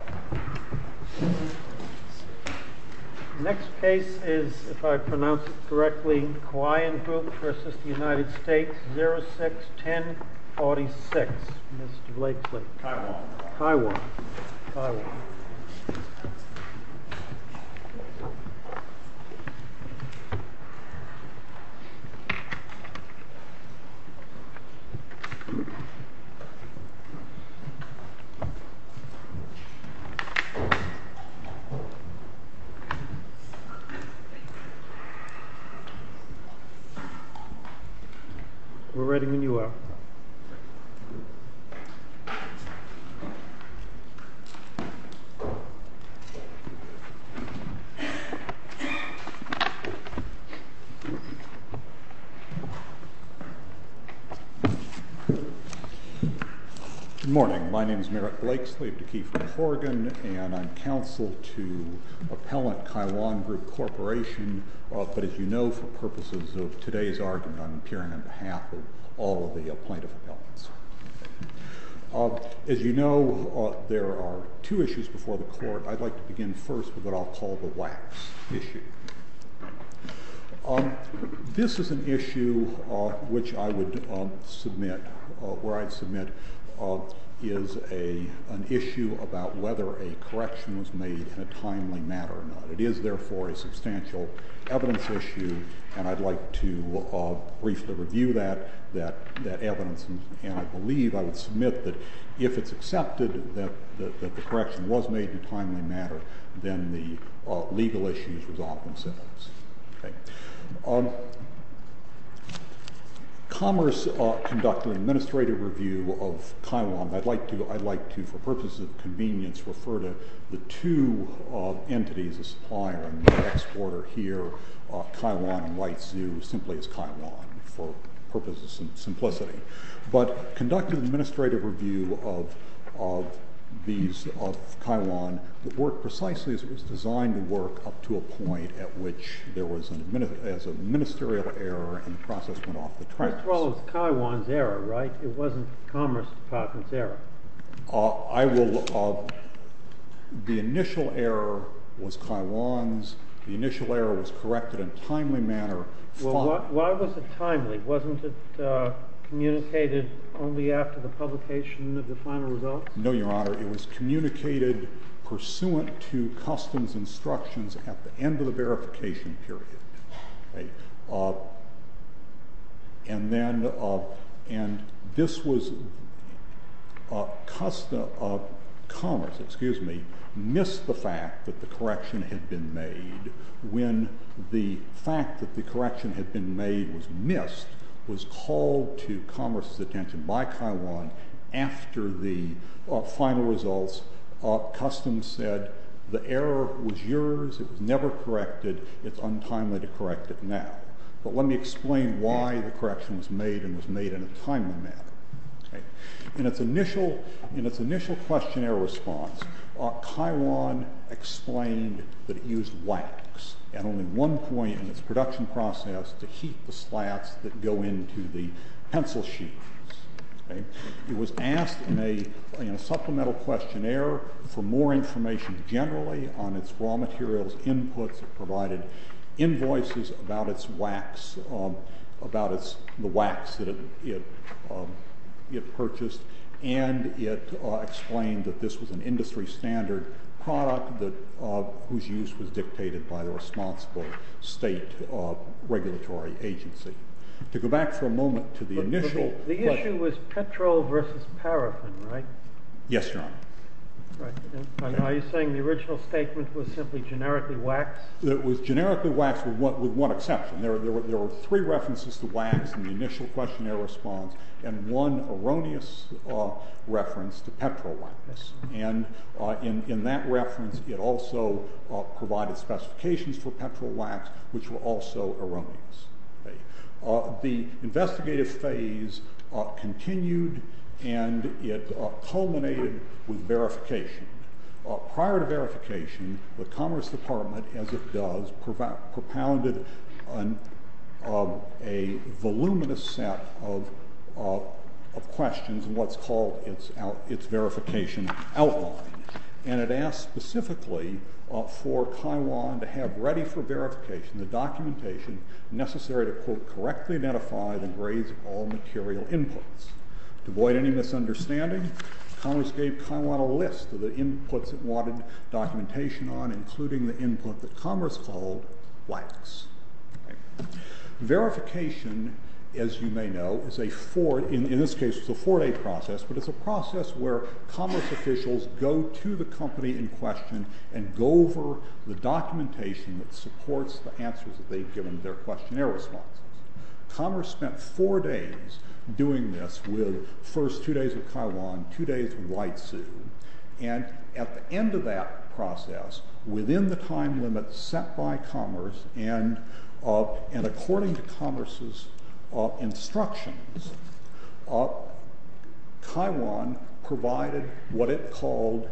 06-1046 Good morning, my name is Merrick Blakes, I live in Kiefer, Oregon. And I'm counsel to Appellant Kaiyuan Group Corporation. But as you know, for purposes of today's argument, I'm appearing on behalf of all the plaintiff appellants. As you know, there are two issues before the court. I'd like to begin first with what I'll call the wax issue. This is an issue which I would submit, where I'd submit is an issue about whether a correction was made in a timely manner or not. It is therefore a substantial evidence issue, and I'd like to briefly review that evidence. And I believe I would submit that if it's accepted that the correction was made in a timely manner, then the legal issues resolve themselves. Commerce conducted an administrative review of Kaiyuan. I'd like to, for purposes of convenience, refer to the two entities of supplier and exporter here, Kaiyuan and White Zoo, simply as Kaiyuan, for purposes of simplicity. But conducted an administrative review of Kaiyuan that worked precisely as it was designed to work up to a point at which there was a ministerial error and the process went off the tracks. Well, it was Kaiyuan's error, right? It wasn't Commerce Department's error. I will look up. The initial error was Kaiyuan's. The initial error was corrected in a timely manner. Why was it timely? Wasn't it communicated only after the publication of the final results? No, Your Honor. It was communicated pursuant to customs instructions at the end of the verification period. And then this was, Commerce, excuse me, missed the fact that the correction had been made. When the fact that the correction had been made was missed, was called to Commerce's attention by Kaiyuan after the final results, Customs said the error was yours. It was never corrected. It's untimely to correct it now. But let me explain why the correction was made and was made in a timely manner. In its initial questionnaire response, Kaiyuan explained that it used wax at only one point in its production process to heat the slats that go into the pencil sheets. It was asked in a supplemental questionnaire for more information generally on its raw materials inputs. It provided invoices about the wax that it purchased. And it explained that this was an industry standard product whose use was dictated by the responsible state regulatory agency. To go back for a moment to the initial question. The issue was petrol versus paraffin, right? Yes, Your Honor. Are you saying the original statement was simply generically wax? It was generically wax with one exception. There were three references to wax in the initial questionnaire response and one erroneous reference to petrol wax. And in that reference, it also provided specifications for petrol wax, which were also erroneous. The investigative phase continued and it culminated with verification. Prior to verification, the Commerce Department, as it does, propounded a voluminous set of questions in what's called its verification outline. And it asked specifically for Kiwan to have ready for verification the documentation necessary to, quote, correctly identify the grades of all material inputs. To avoid any misunderstanding, Commerce gave Kiwan a list of the inputs it wanted documentation on, including the input that Commerce called wax. Verification, as you may know, in this case was a four-day process, but it's a process where Commerce officials go to the company in question and go over the documentation that supports the answers that they've given to their questionnaire responses. Commerce spent four days doing this with first two days with Kiwan, two days with Whitesu. And at the end of that process, within the time limit set by Commerce, and according to Commerce's instructions, Kiwan provided what it called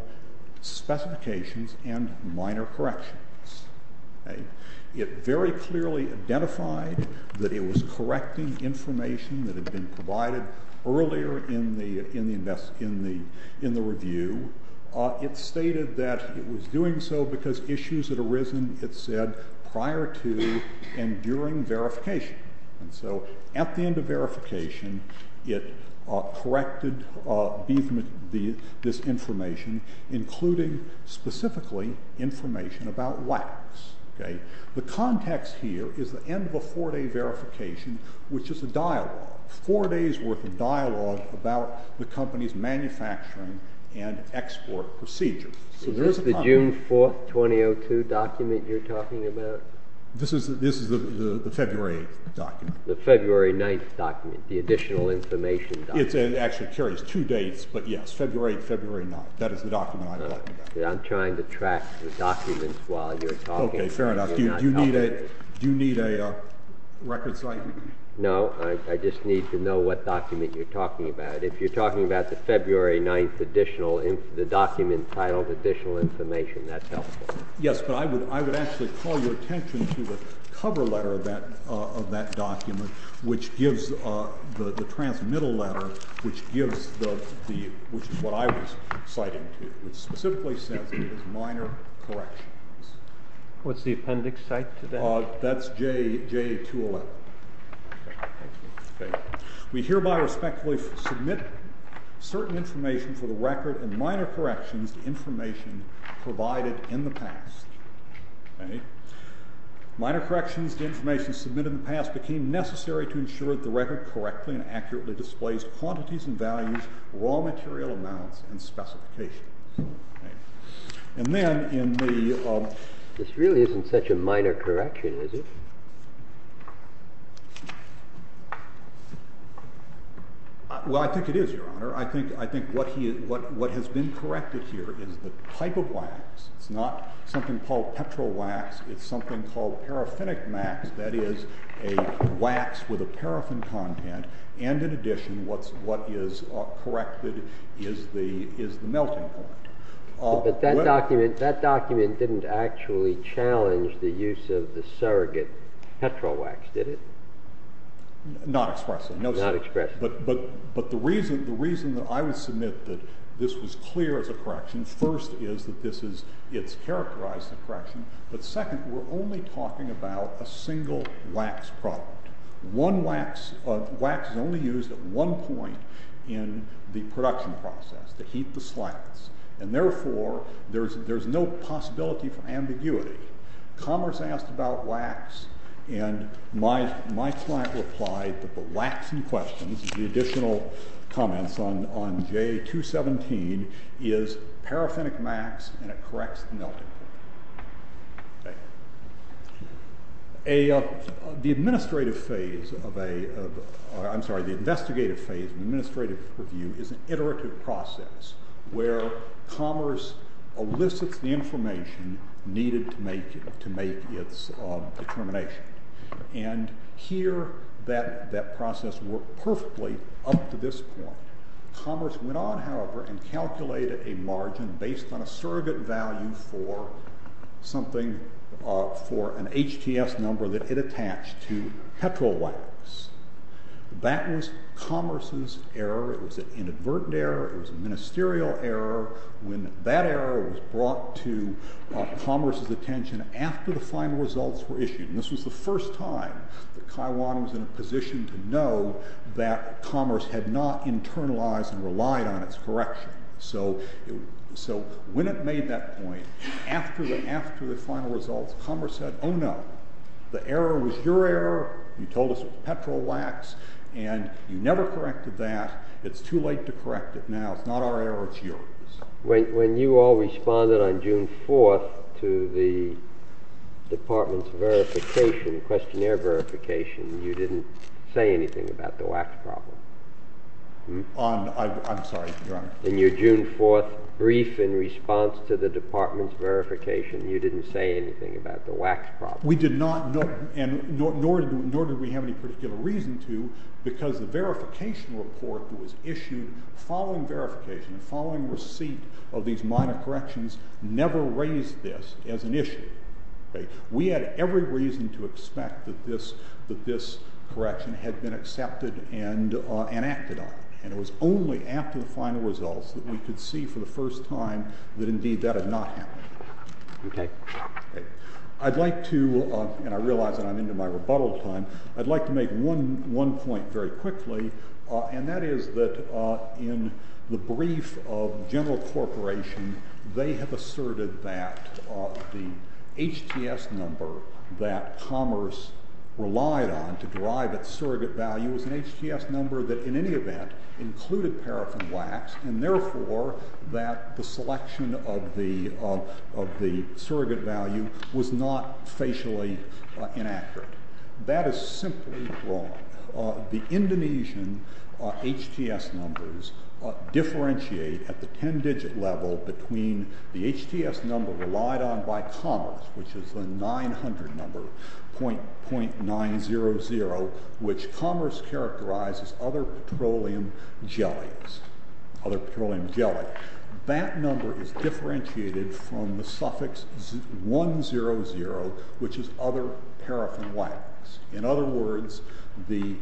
specifications and minor corrections. It very clearly identified that it was correcting information that had been provided earlier in the review. It stated that it was doing so because issues had arisen, it said, prior to and during verification. And so at the end of verification, it corrected this information, including specifically information about wax. The context here is the end of a four-day verification, which is a dialogue, about the company's manufacturing and export procedures. Is this the June 4th, 2002 document you're talking about? This is the February document. The February 9th document, the additional information document. It actually carries two dates, but yes, February 8th, February 9th. That is the document I'm talking about. I'm trying to track the documents while you're talking. Okay, fair enough. Do you need a record site? No, I just need to know what document you're talking about. If you're talking about the February 9th document titled Additional Information, that's helpful. Yes, but I would actually call your attention to the cover letter of that document, which gives the transmittal letter, which is what I was citing to, which specifically says it was minor corrections. What's the appendix site to that? That's J211. We hereby respectfully submit certain information for the record and minor corrections to information provided in the past. Minor corrections to information submitted in the past became necessary to ensure that the record correctly and accurately displays quantities and values, raw material amounts, and specifications. This really isn't such a minor correction, is it? Well, I think it is, Your Honor. I think what has been corrected here is the type of wax. It's not something called petrol wax. It's something called paraffinic max, that is a wax with a paraffin content. And in addition, what is corrected is the melting point. But that document didn't actually challenge the use of the surrogate petrol wax, did it? Not expressly. Not expressly. But the reason that I would submit that this was clear as a correction, first, is that it's characterized as a correction. But second, we're only talking about a single wax product. Wax is only used at one point in the production process, to heat the slats. And therefore, there's no possibility for ambiguity. Commerce asked about wax, and my client replied that the wax in question, the additional comments on J217, is paraffinic max and it corrects the melting point. Thank you. The investigative phase of an administrative review is an iterative process, where commerce elicits the information needed to make its determination. And here, that process worked perfectly up to this point. Commerce went on, however, and calculated a margin based on a surrogate value for something, for an HTS number that it attached to petrol wax. That was commerce's error. It was an inadvertent error, it was a ministerial error, when that error was brought to commerce's attention after the final results were issued. And this was the first time that Kiwan was in a position to know that commerce had not internalized and relied on its correction. So when it made that point, after the final results, commerce said, oh no, the error was your error. You told us it was petrol wax, and you never corrected that. It's too late to correct it now. It's not our error, it's yours. When you all responded on June 4th to the department's verification, questionnaire verification, you didn't say anything about the wax problem. I'm sorry, Your Honor. In your June 4th brief in response to the department's verification, you didn't say anything about the wax problem. We did not, nor did we have any particular reason to, because the verification report was issued following verification, the following receipt of these minor corrections never raised this as an issue. We had every reason to expect that this correction had been accepted and acted on, and it was only after the final results that we could see for the first time that indeed that had not happened. I'd like to, and I realize that I'm into my rebuttal time, I'd like to make one point very quickly, and that is that in the brief of General Corporation, they have asserted that the HTS number that Commerce relied on to derive its surrogate value was an HTS number that in any event included paraffin wax, and therefore that the selection of the surrogate value was not facially inaccurate. That is simply wrong. The Indonesian HTS numbers differentiate at the 10-digit level between the HTS number relied on by Commerce, which is the 900 number, .900, which Commerce characterized as other petroleum jellies, other petroleum jelly. That number is differentiated from the suffix 100, which is other paraffin wax. In other words, the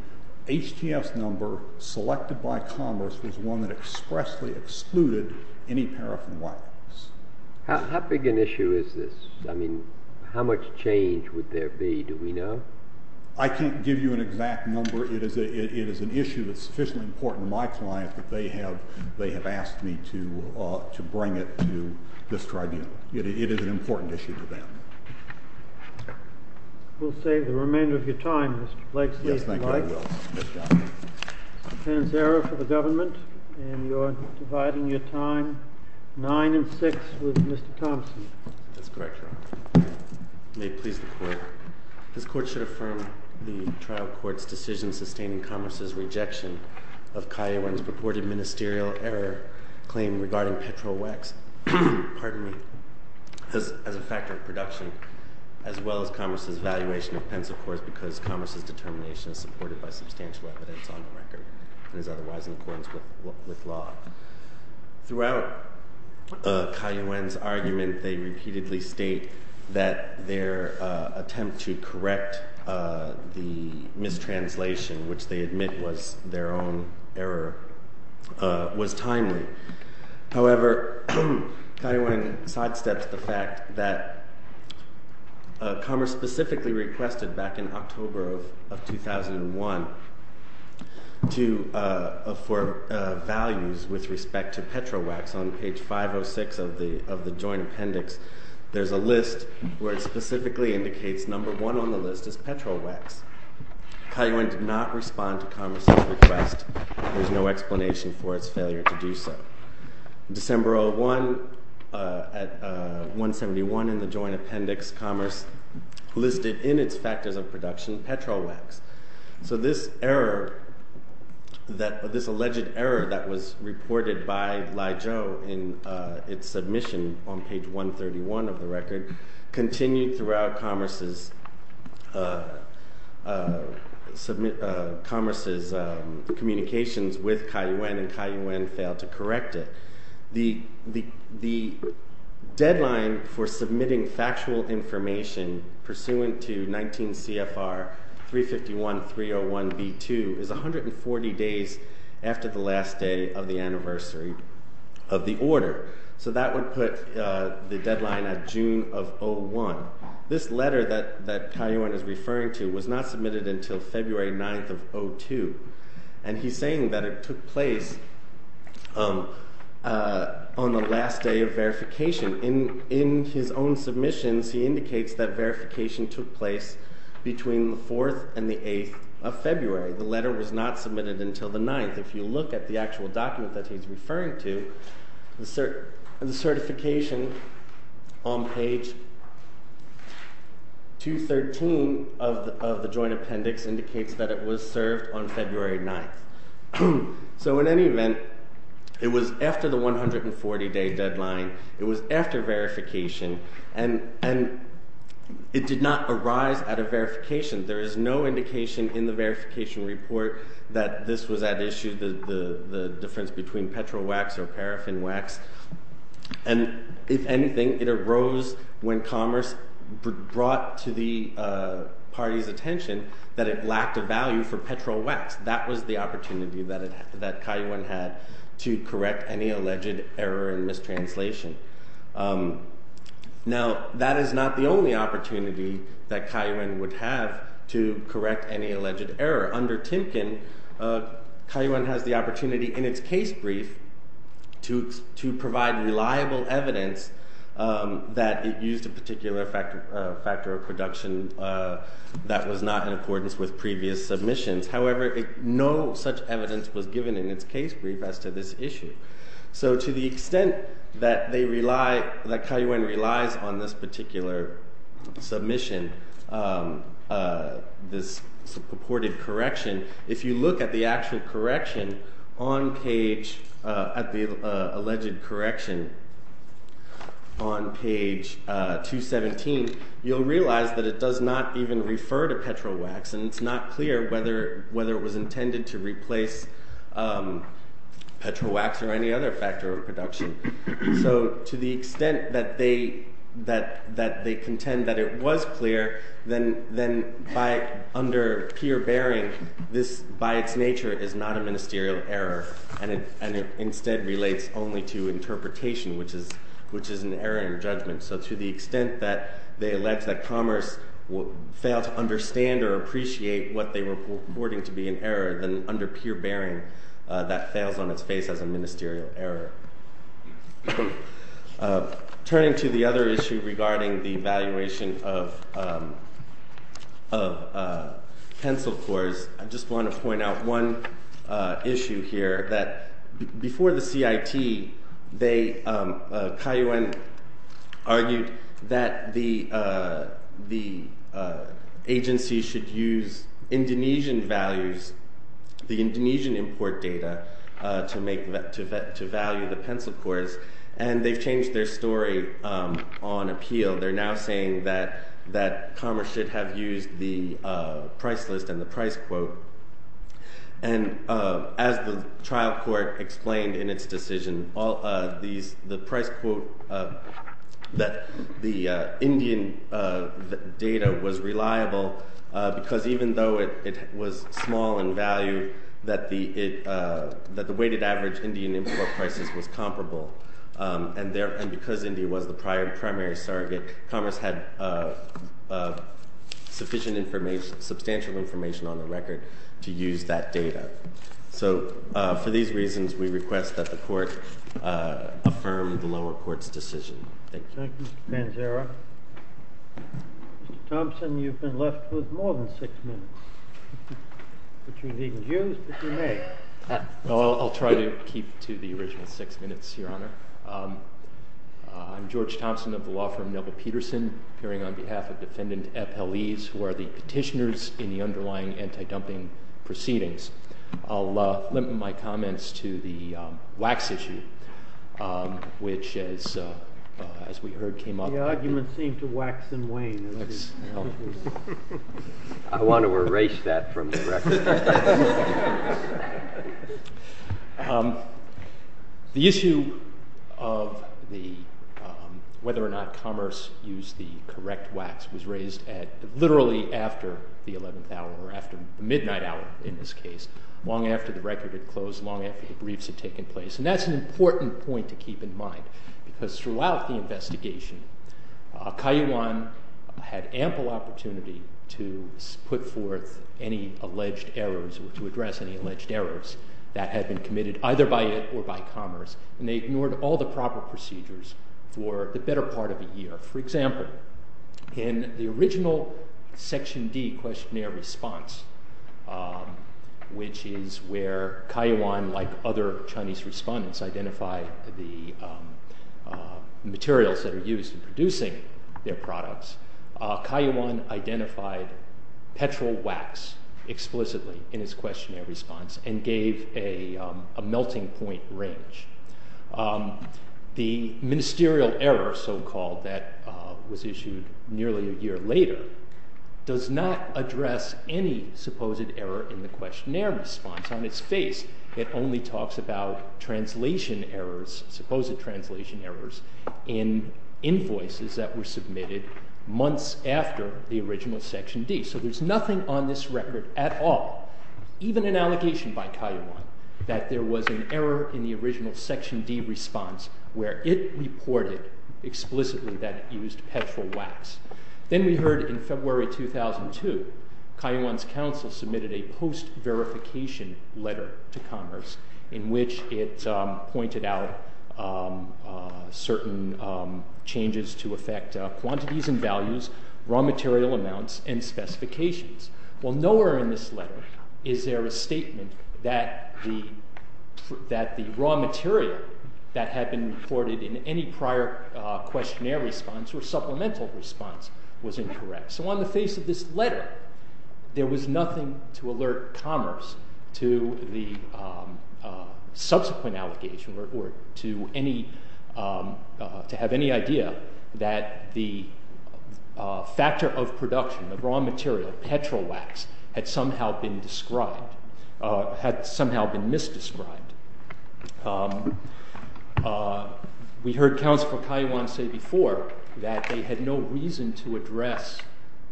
HTS number selected by Commerce was one that expressly excluded any paraffin wax. How big an issue is this? I mean, how much change would there be, do we know? I can't give you an exact number. It is an issue that's sufficiently important to my client that they have asked me to bring it to this tribunal. It is an important issue to them. We'll save the remainder of your time, Mr. Blake. Yes, thank you. I will. Mr. Panzera for the government. And you're dividing your time 9 and 6 with Mr. Thompson. That's correct, Your Honor. May it please the Court. This Court should affirm the trial court's decision sustaining Commerce's rejection of Kaiyuan's purported ministerial error claim regarding petrol wax as a factor of production, as well as Commerce's evaluation of pencil cores because Commerce's determination is supported by substantial evidence on the record and is otherwise in accordance with law. Throughout Kaiyuan's argument, they repeatedly state that their attempt to correct the mistranslation, which they admit was their own error, was timely. However, Kaiyuan sidesteps the fact that Commerce specifically requested back in October of 2001 for values with respect to petrol wax. On page 506 of the joint appendix, there's a list where it specifically indicates number one on the list is petrol wax. Kaiyuan did not respond to Commerce's request. There's no explanation for its failure to do so. December of 1, at 171 in the joint appendix, Commerce listed in its factors of production petrol wax. So this alleged error that was reported by Lai Zhou in its submission on page 131 of the record continued throughout Commerce's communications with Kaiyuan and Kaiyuan failed to correct it. The deadline for submitting factual information pursuant to 19 CFR 351.301.B2 is 140 days after the last day of the anniversary of the order. So that would put the deadline at June of 01. This letter that Kaiyuan is referring to was not submitted until February 9th of 02. And he's saying that it took place on the last day of verification. In his own submissions, he indicates that verification took place between the 4th and the 8th of February. The letter was not submitted until the 9th. If you look at the actual document that he's referring to, the certification on page 213 of the joint appendix indicates that it was served on February 9th. So in any event, it was after the 140-day deadline. It was after verification. And it did not arise out of verification. There is no indication in the verification report that this was at issue, the difference between petrol wax or paraffin wax. And if anything, it arose when commerce brought to the party's attention that it lacked a value for petrol wax. That was the opportunity that Kaiyuan had to correct any alleged error in mistranslation. Now, that is not the only opportunity that Kaiyuan would have to correct any alleged error. Under Timken, Kaiyuan has the opportunity in its case brief to provide reliable evidence that it used a particular factor of production that was not in accordance with previous submissions. However, no such evidence was given in its case brief as to this issue. So to the extent that Kaiyuan relies on this particular submission, this purported correction, if you look at the actual correction on page, at the alleged correction on page 217, you'll realize that it does not even refer to petrol wax. And it's not clear whether it was intended to replace petrol wax or any other factor of production. So to the extent that they contend that it was clear, then under peer bearing, this by its nature is not a ministerial error. And it instead relates only to interpretation, which is an error in judgment. So to the extent that they allege that commerce failed to understand or appreciate what they were reporting to be an error, then under peer bearing, that fails on its face as a ministerial error. Turning to the other issue regarding the evaluation of pencil cores, I just want to point out one issue here. Before the CIT, Kaiyuan argued that the agency should use Indonesian values, the Indonesian import data, to value the pencil cores. And they've changed their story on appeal. They're now saying that commerce should have used the price list and the price quote. And as the trial court explained in its decision, the price quote that the Indian data was reliable because even though it was small in value, that the weighted average Indian import prices was comparable. And because India was the primary surrogate, commerce had sufficient information, substantial information on the record to use that data. So for these reasons, we request that the court affirm the lower court's decision. Thank you. Thank you, Mr. Panzara. Mr. Thompson, you've been left with more than six minutes. But you needn't use, but you may. I'll try to keep to the original six minutes, Your Honor. I'm George Thompson of the law firm Neville-Peterson, appearing on behalf of defendant F. L. Eves, who are the petitioners in the underlying anti-dumping proceedings. I'll limit my comments to the wax issue, which, as we heard, came up. The argument seemed to wax and wane. I want to erase that from the record. The issue of whether or not commerce used the correct wax was raised literally after the 11th hour, or after midnight hour in this case, long after the record had closed, long after the briefs had taken place. And that's an important point to keep in mind, because throughout the investigation, Kaiyuan had ample opportunity to put forth any alleged errors or to address any alleged errors that had been committed either by it or by commerce, and they ignored all the proper procedures for the better part of a year. For example, in the original Section D questionnaire response, which is where Kaiyuan, like other Chinese respondents, identified the materials that are used in producing their products, Kaiyuan identified petrol wax explicitly in his questionnaire response and gave a melting point range. The ministerial error, so-called, that was issued nearly a year later does not address any supposed error in the questionnaire response. On its face, it only talks about translation errors, supposed translation errors, in invoices that were submitted months after the original Section D. So there's nothing on this record at all, even an allegation by Kaiyuan, that there was an error in the original Section D response where it reported explicitly that it used petrol wax. Then we heard in February 2002, Kaiyuan's council submitted a post-verification letter to commerce in which it pointed out certain changes to affect quantities and values, raw material amounts, and specifications. Well, nowhere in this letter is there a statement that the raw material that had been reported in any prior questionnaire response or supplemental response was incorrect. So on the face of this letter, there was nothing to alert commerce to the subsequent allegation or to have any idea that the factor of production, the raw material, petrol wax, had somehow been mis-described. We heard Councilor Kaiyuan say before that they had no reason to address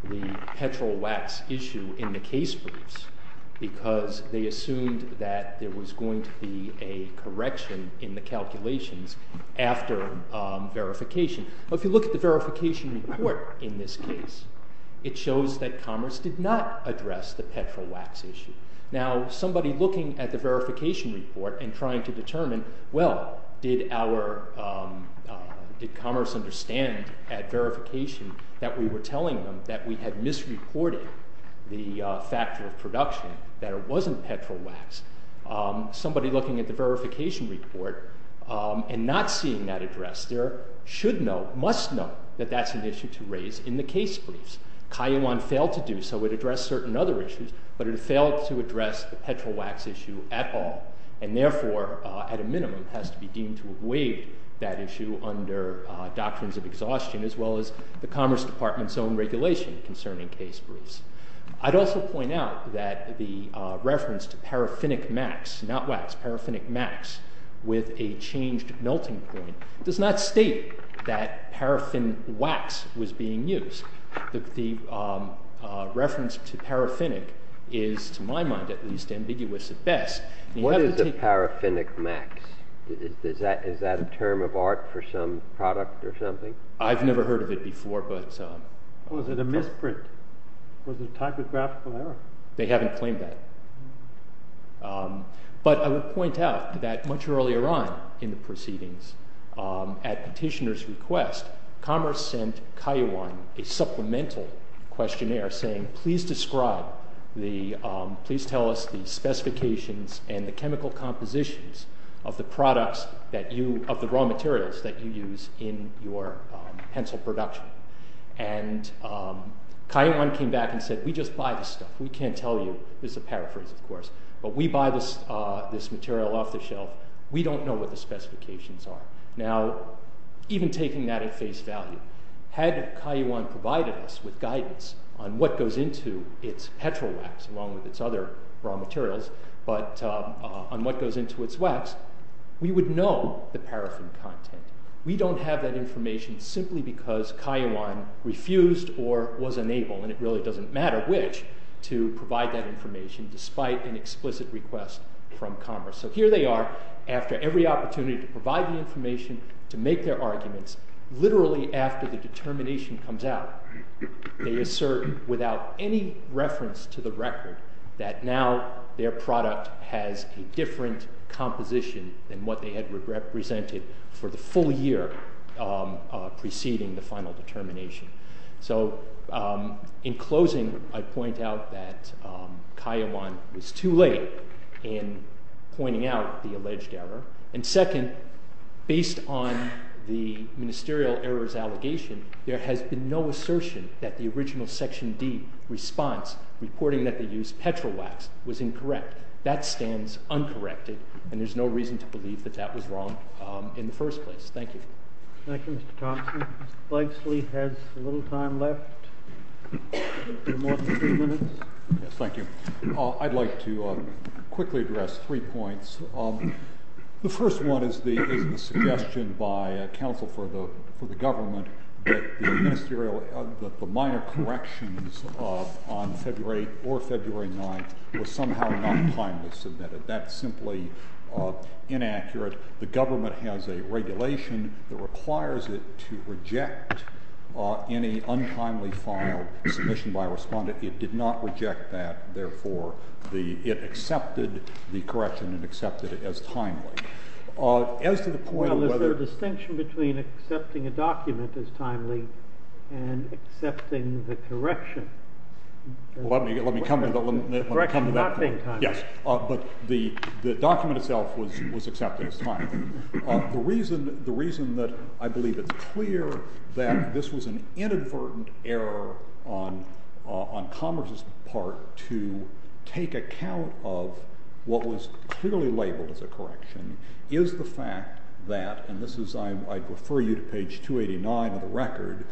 the petrol wax issue in the case briefs because they assumed that there was going to be a correction in the calculations after verification. If you look at the verification report in this case, it shows that commerce did not address the petrol wax issue. Now, somebody looking at the verification report and trying to determine, well, did commerce understand at verification that we were telling them that we had misreported the factor of production, that it wasn't petrol wax? Somebody looking at the verification report and not seeing that address, there should know, must know, that that's an issue to raise in the case briefs. Kaiyuan failed to do so. It addressed certain other issues, but it failed to address the petrol wax issue at all, and therefore, at a minimum, has to be deemed to have waived that issue under doctrines of exhaustion as well as the Commerce Department's own regulation concerning case briefs. I'd also point out that the reference to paraffinic max, not wax, paraffinic max, with a changed melting point does not state that paraffin wax was being used. The reference to paraffinic is, to my mind at least, ambiguous at best. What is a paraffinic max? Is that a term of art for some product or something? I've never heard of it before, but... Was it a misprint? Was it a typographical error? They haven't claimed that. But I would point out that much earlier on in the proceedings, at petitioner's request, Commerce sent Kayiwan a supplemental questionnaire saying, please describe, please tell us the specifications and the chemical compositions of the products that you, of the raw materials that you use in your pencil production. And Kayiwan came back and said, we just buy this stuff. We can't tell you. This is a paraphrase, of course. But we buy this material off the shelf. We don't know what the specifications are. Now, even taking that at face value, had Kayiwan provided us with guidance on what goes into its petrol wax, along with its other raw materials, but on what goes into its wax, we would know the paraffin content. We don't have that information simply because Kayiwan refused or was unable, and it really doesn't matter which, to provide that information despite an explicit request from Commerce. So here they are, after every opportunity to provide the information, to make their arguments, literally after the determination comes out. They assert, without any reference to the record, that now their product has a different composition than what they had represented for the full year preceding the final determination. So, in closing, I point out that Kayiwan was too late in pointing out the alleged error, and second, based on the ministerial error's allegation, there has been no assertion that the original Section D response reporting that they used petrol wax was incorrect. That stands uncorrected, and there's no reason to believe that that was wrong in the first place. Thank you. Thank you, Mr. Thompson. Mr. Blakeslee has a little time left. More than three minutes. Yes, thank you. I'd like to quickly address three points. The first one is the suggestion by counsel for the government that the ministerial minor corrections on February 8th or February 9th was somehow not timely submitted. That's simply inaccurate. The government has a regulation that requires any untimely filed submission by a respondent. It did not reject that. Therefore, it accepted the correction and accepted it as timely. Now, is there a distinction between accepting a document as timely and accepting the correction? Let me come to that point. The document itself was accepted as timely. The reason that I believe it's clear that this was an inadvertent error on to take account of what was clearly labeled as a correction is the fact that, and this is, I'd refer you to page 289 of the record,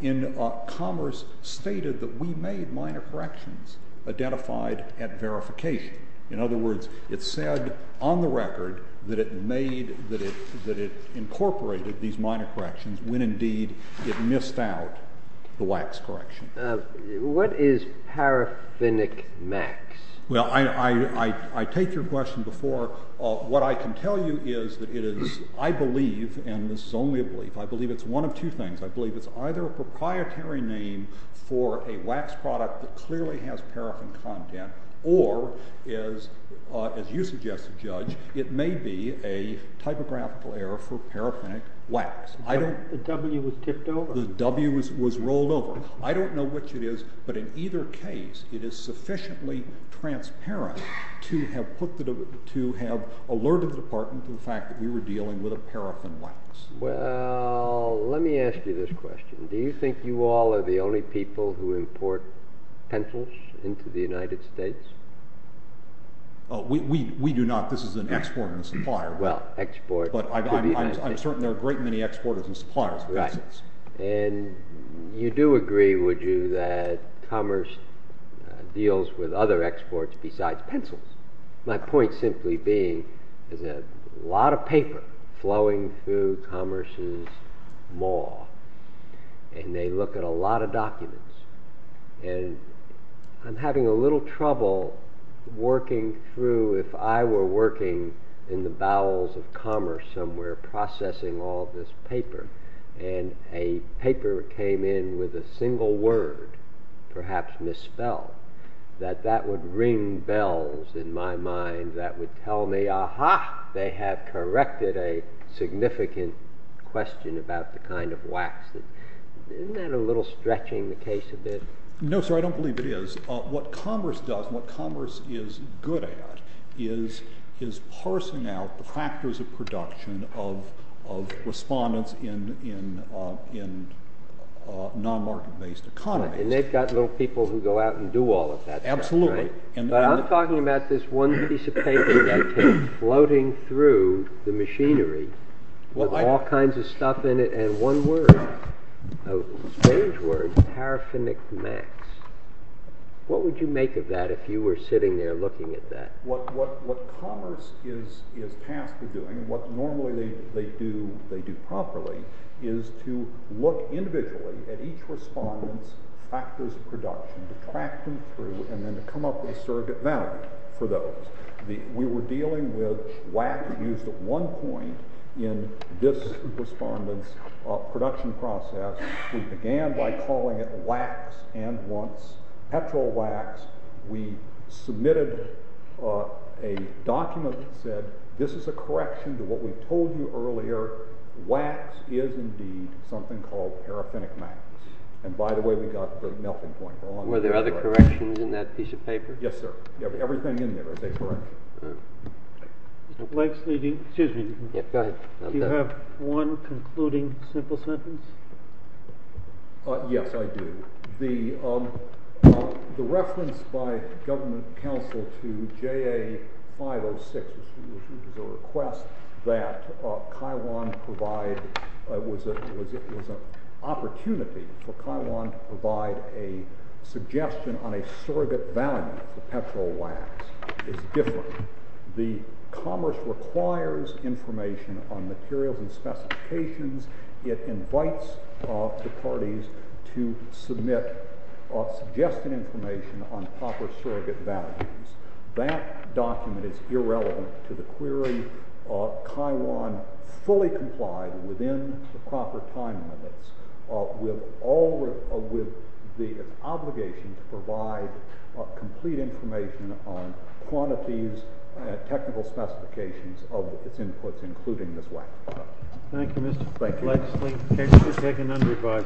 in Commerce stated that we made minor corrections identified at verification. In other words, it said on the record that it made, that it incorporated these minor corrections when indeed it missed out the wax correction. What is paraffinic wax? Well, I take your question before. What I can tell you is that it is, I believe, and this is only a belief, I believe it's one of two things. I believe it's either a proprietary name for a wax product that clearly has paraffin content as you suggested, Judge, it may be a typographical error for paraffinic wax. The W was tipped over? The W was rolled over. I don't know which it is, but in either case it is sufficiently transparent to have put the to have alerted the department to the fact that we were dealing with a paraffin wax. Well, let me ask you this question. Do you think you all are the only people who import pencils into the United States? We do not. This is an exporter and supplier. Well, export But I'm certain there are a great many exporters and suppliers of pencils. Right. And you do agree, would you, that commerce deals with other exports besides pencils? My point simply being is that a lot of paper flowing through commerce's mall and they look at a lot of documents and I'm having a little trouble working through if I were working in the bowels of commerce somewhere processing all this paper and a paper came in with a single word, perhaps misspelled, that that would ring bells in my mind that would tell me, aha! They have corrected a significant question about the kind of wax. Isn't that a little stretching the case a bit? No, sir. I don't believe it is. What commerce does, what commerce is good at is parsing out the factors of production of respondents in non-market based economies. And they've got little people who go out and do all of that. Absolutely. But I'm talking about this one piece of paper floating through the machinery with all kinds of stuff in it and one word, a strange word, paraphonic max. What would you make of that if you were sitting there looking at that? What commerce is tasked with doing, what normally they do properly, is to look individually at each respondent's factors of production to track them through and then to come up with a surrogate value for those. We were dealing with wax used at one point in this respondent's production process. We began by calling it wax and once petrol wax we submitted a document that said this is a correction to what we told you earlier. Wax is indeed something called paraphonic max. And by the way, we got the melting point. Were there other corrections in that piece of paper? Yes, sir. Everything in there is a correction. Do you have one concluding simple sentence? Yes, I do. The reference by government counsel to JA 506, which is a request that Kiwan provide, it was an opportunity for Kiwan to provide a suggestion on a surrogate value for petrol wax is different. The commerce requires information on materials and specifications. It invites the parties to submit suggested information on proper surrogate values. That document is irrelevant to the query Kiwan fully complied within the proper time limits with the obligation to provide complete information on quantities and technical specifications of its inputs including this wax product. Thank you, Mr. Blakeslee. The case is taken underway.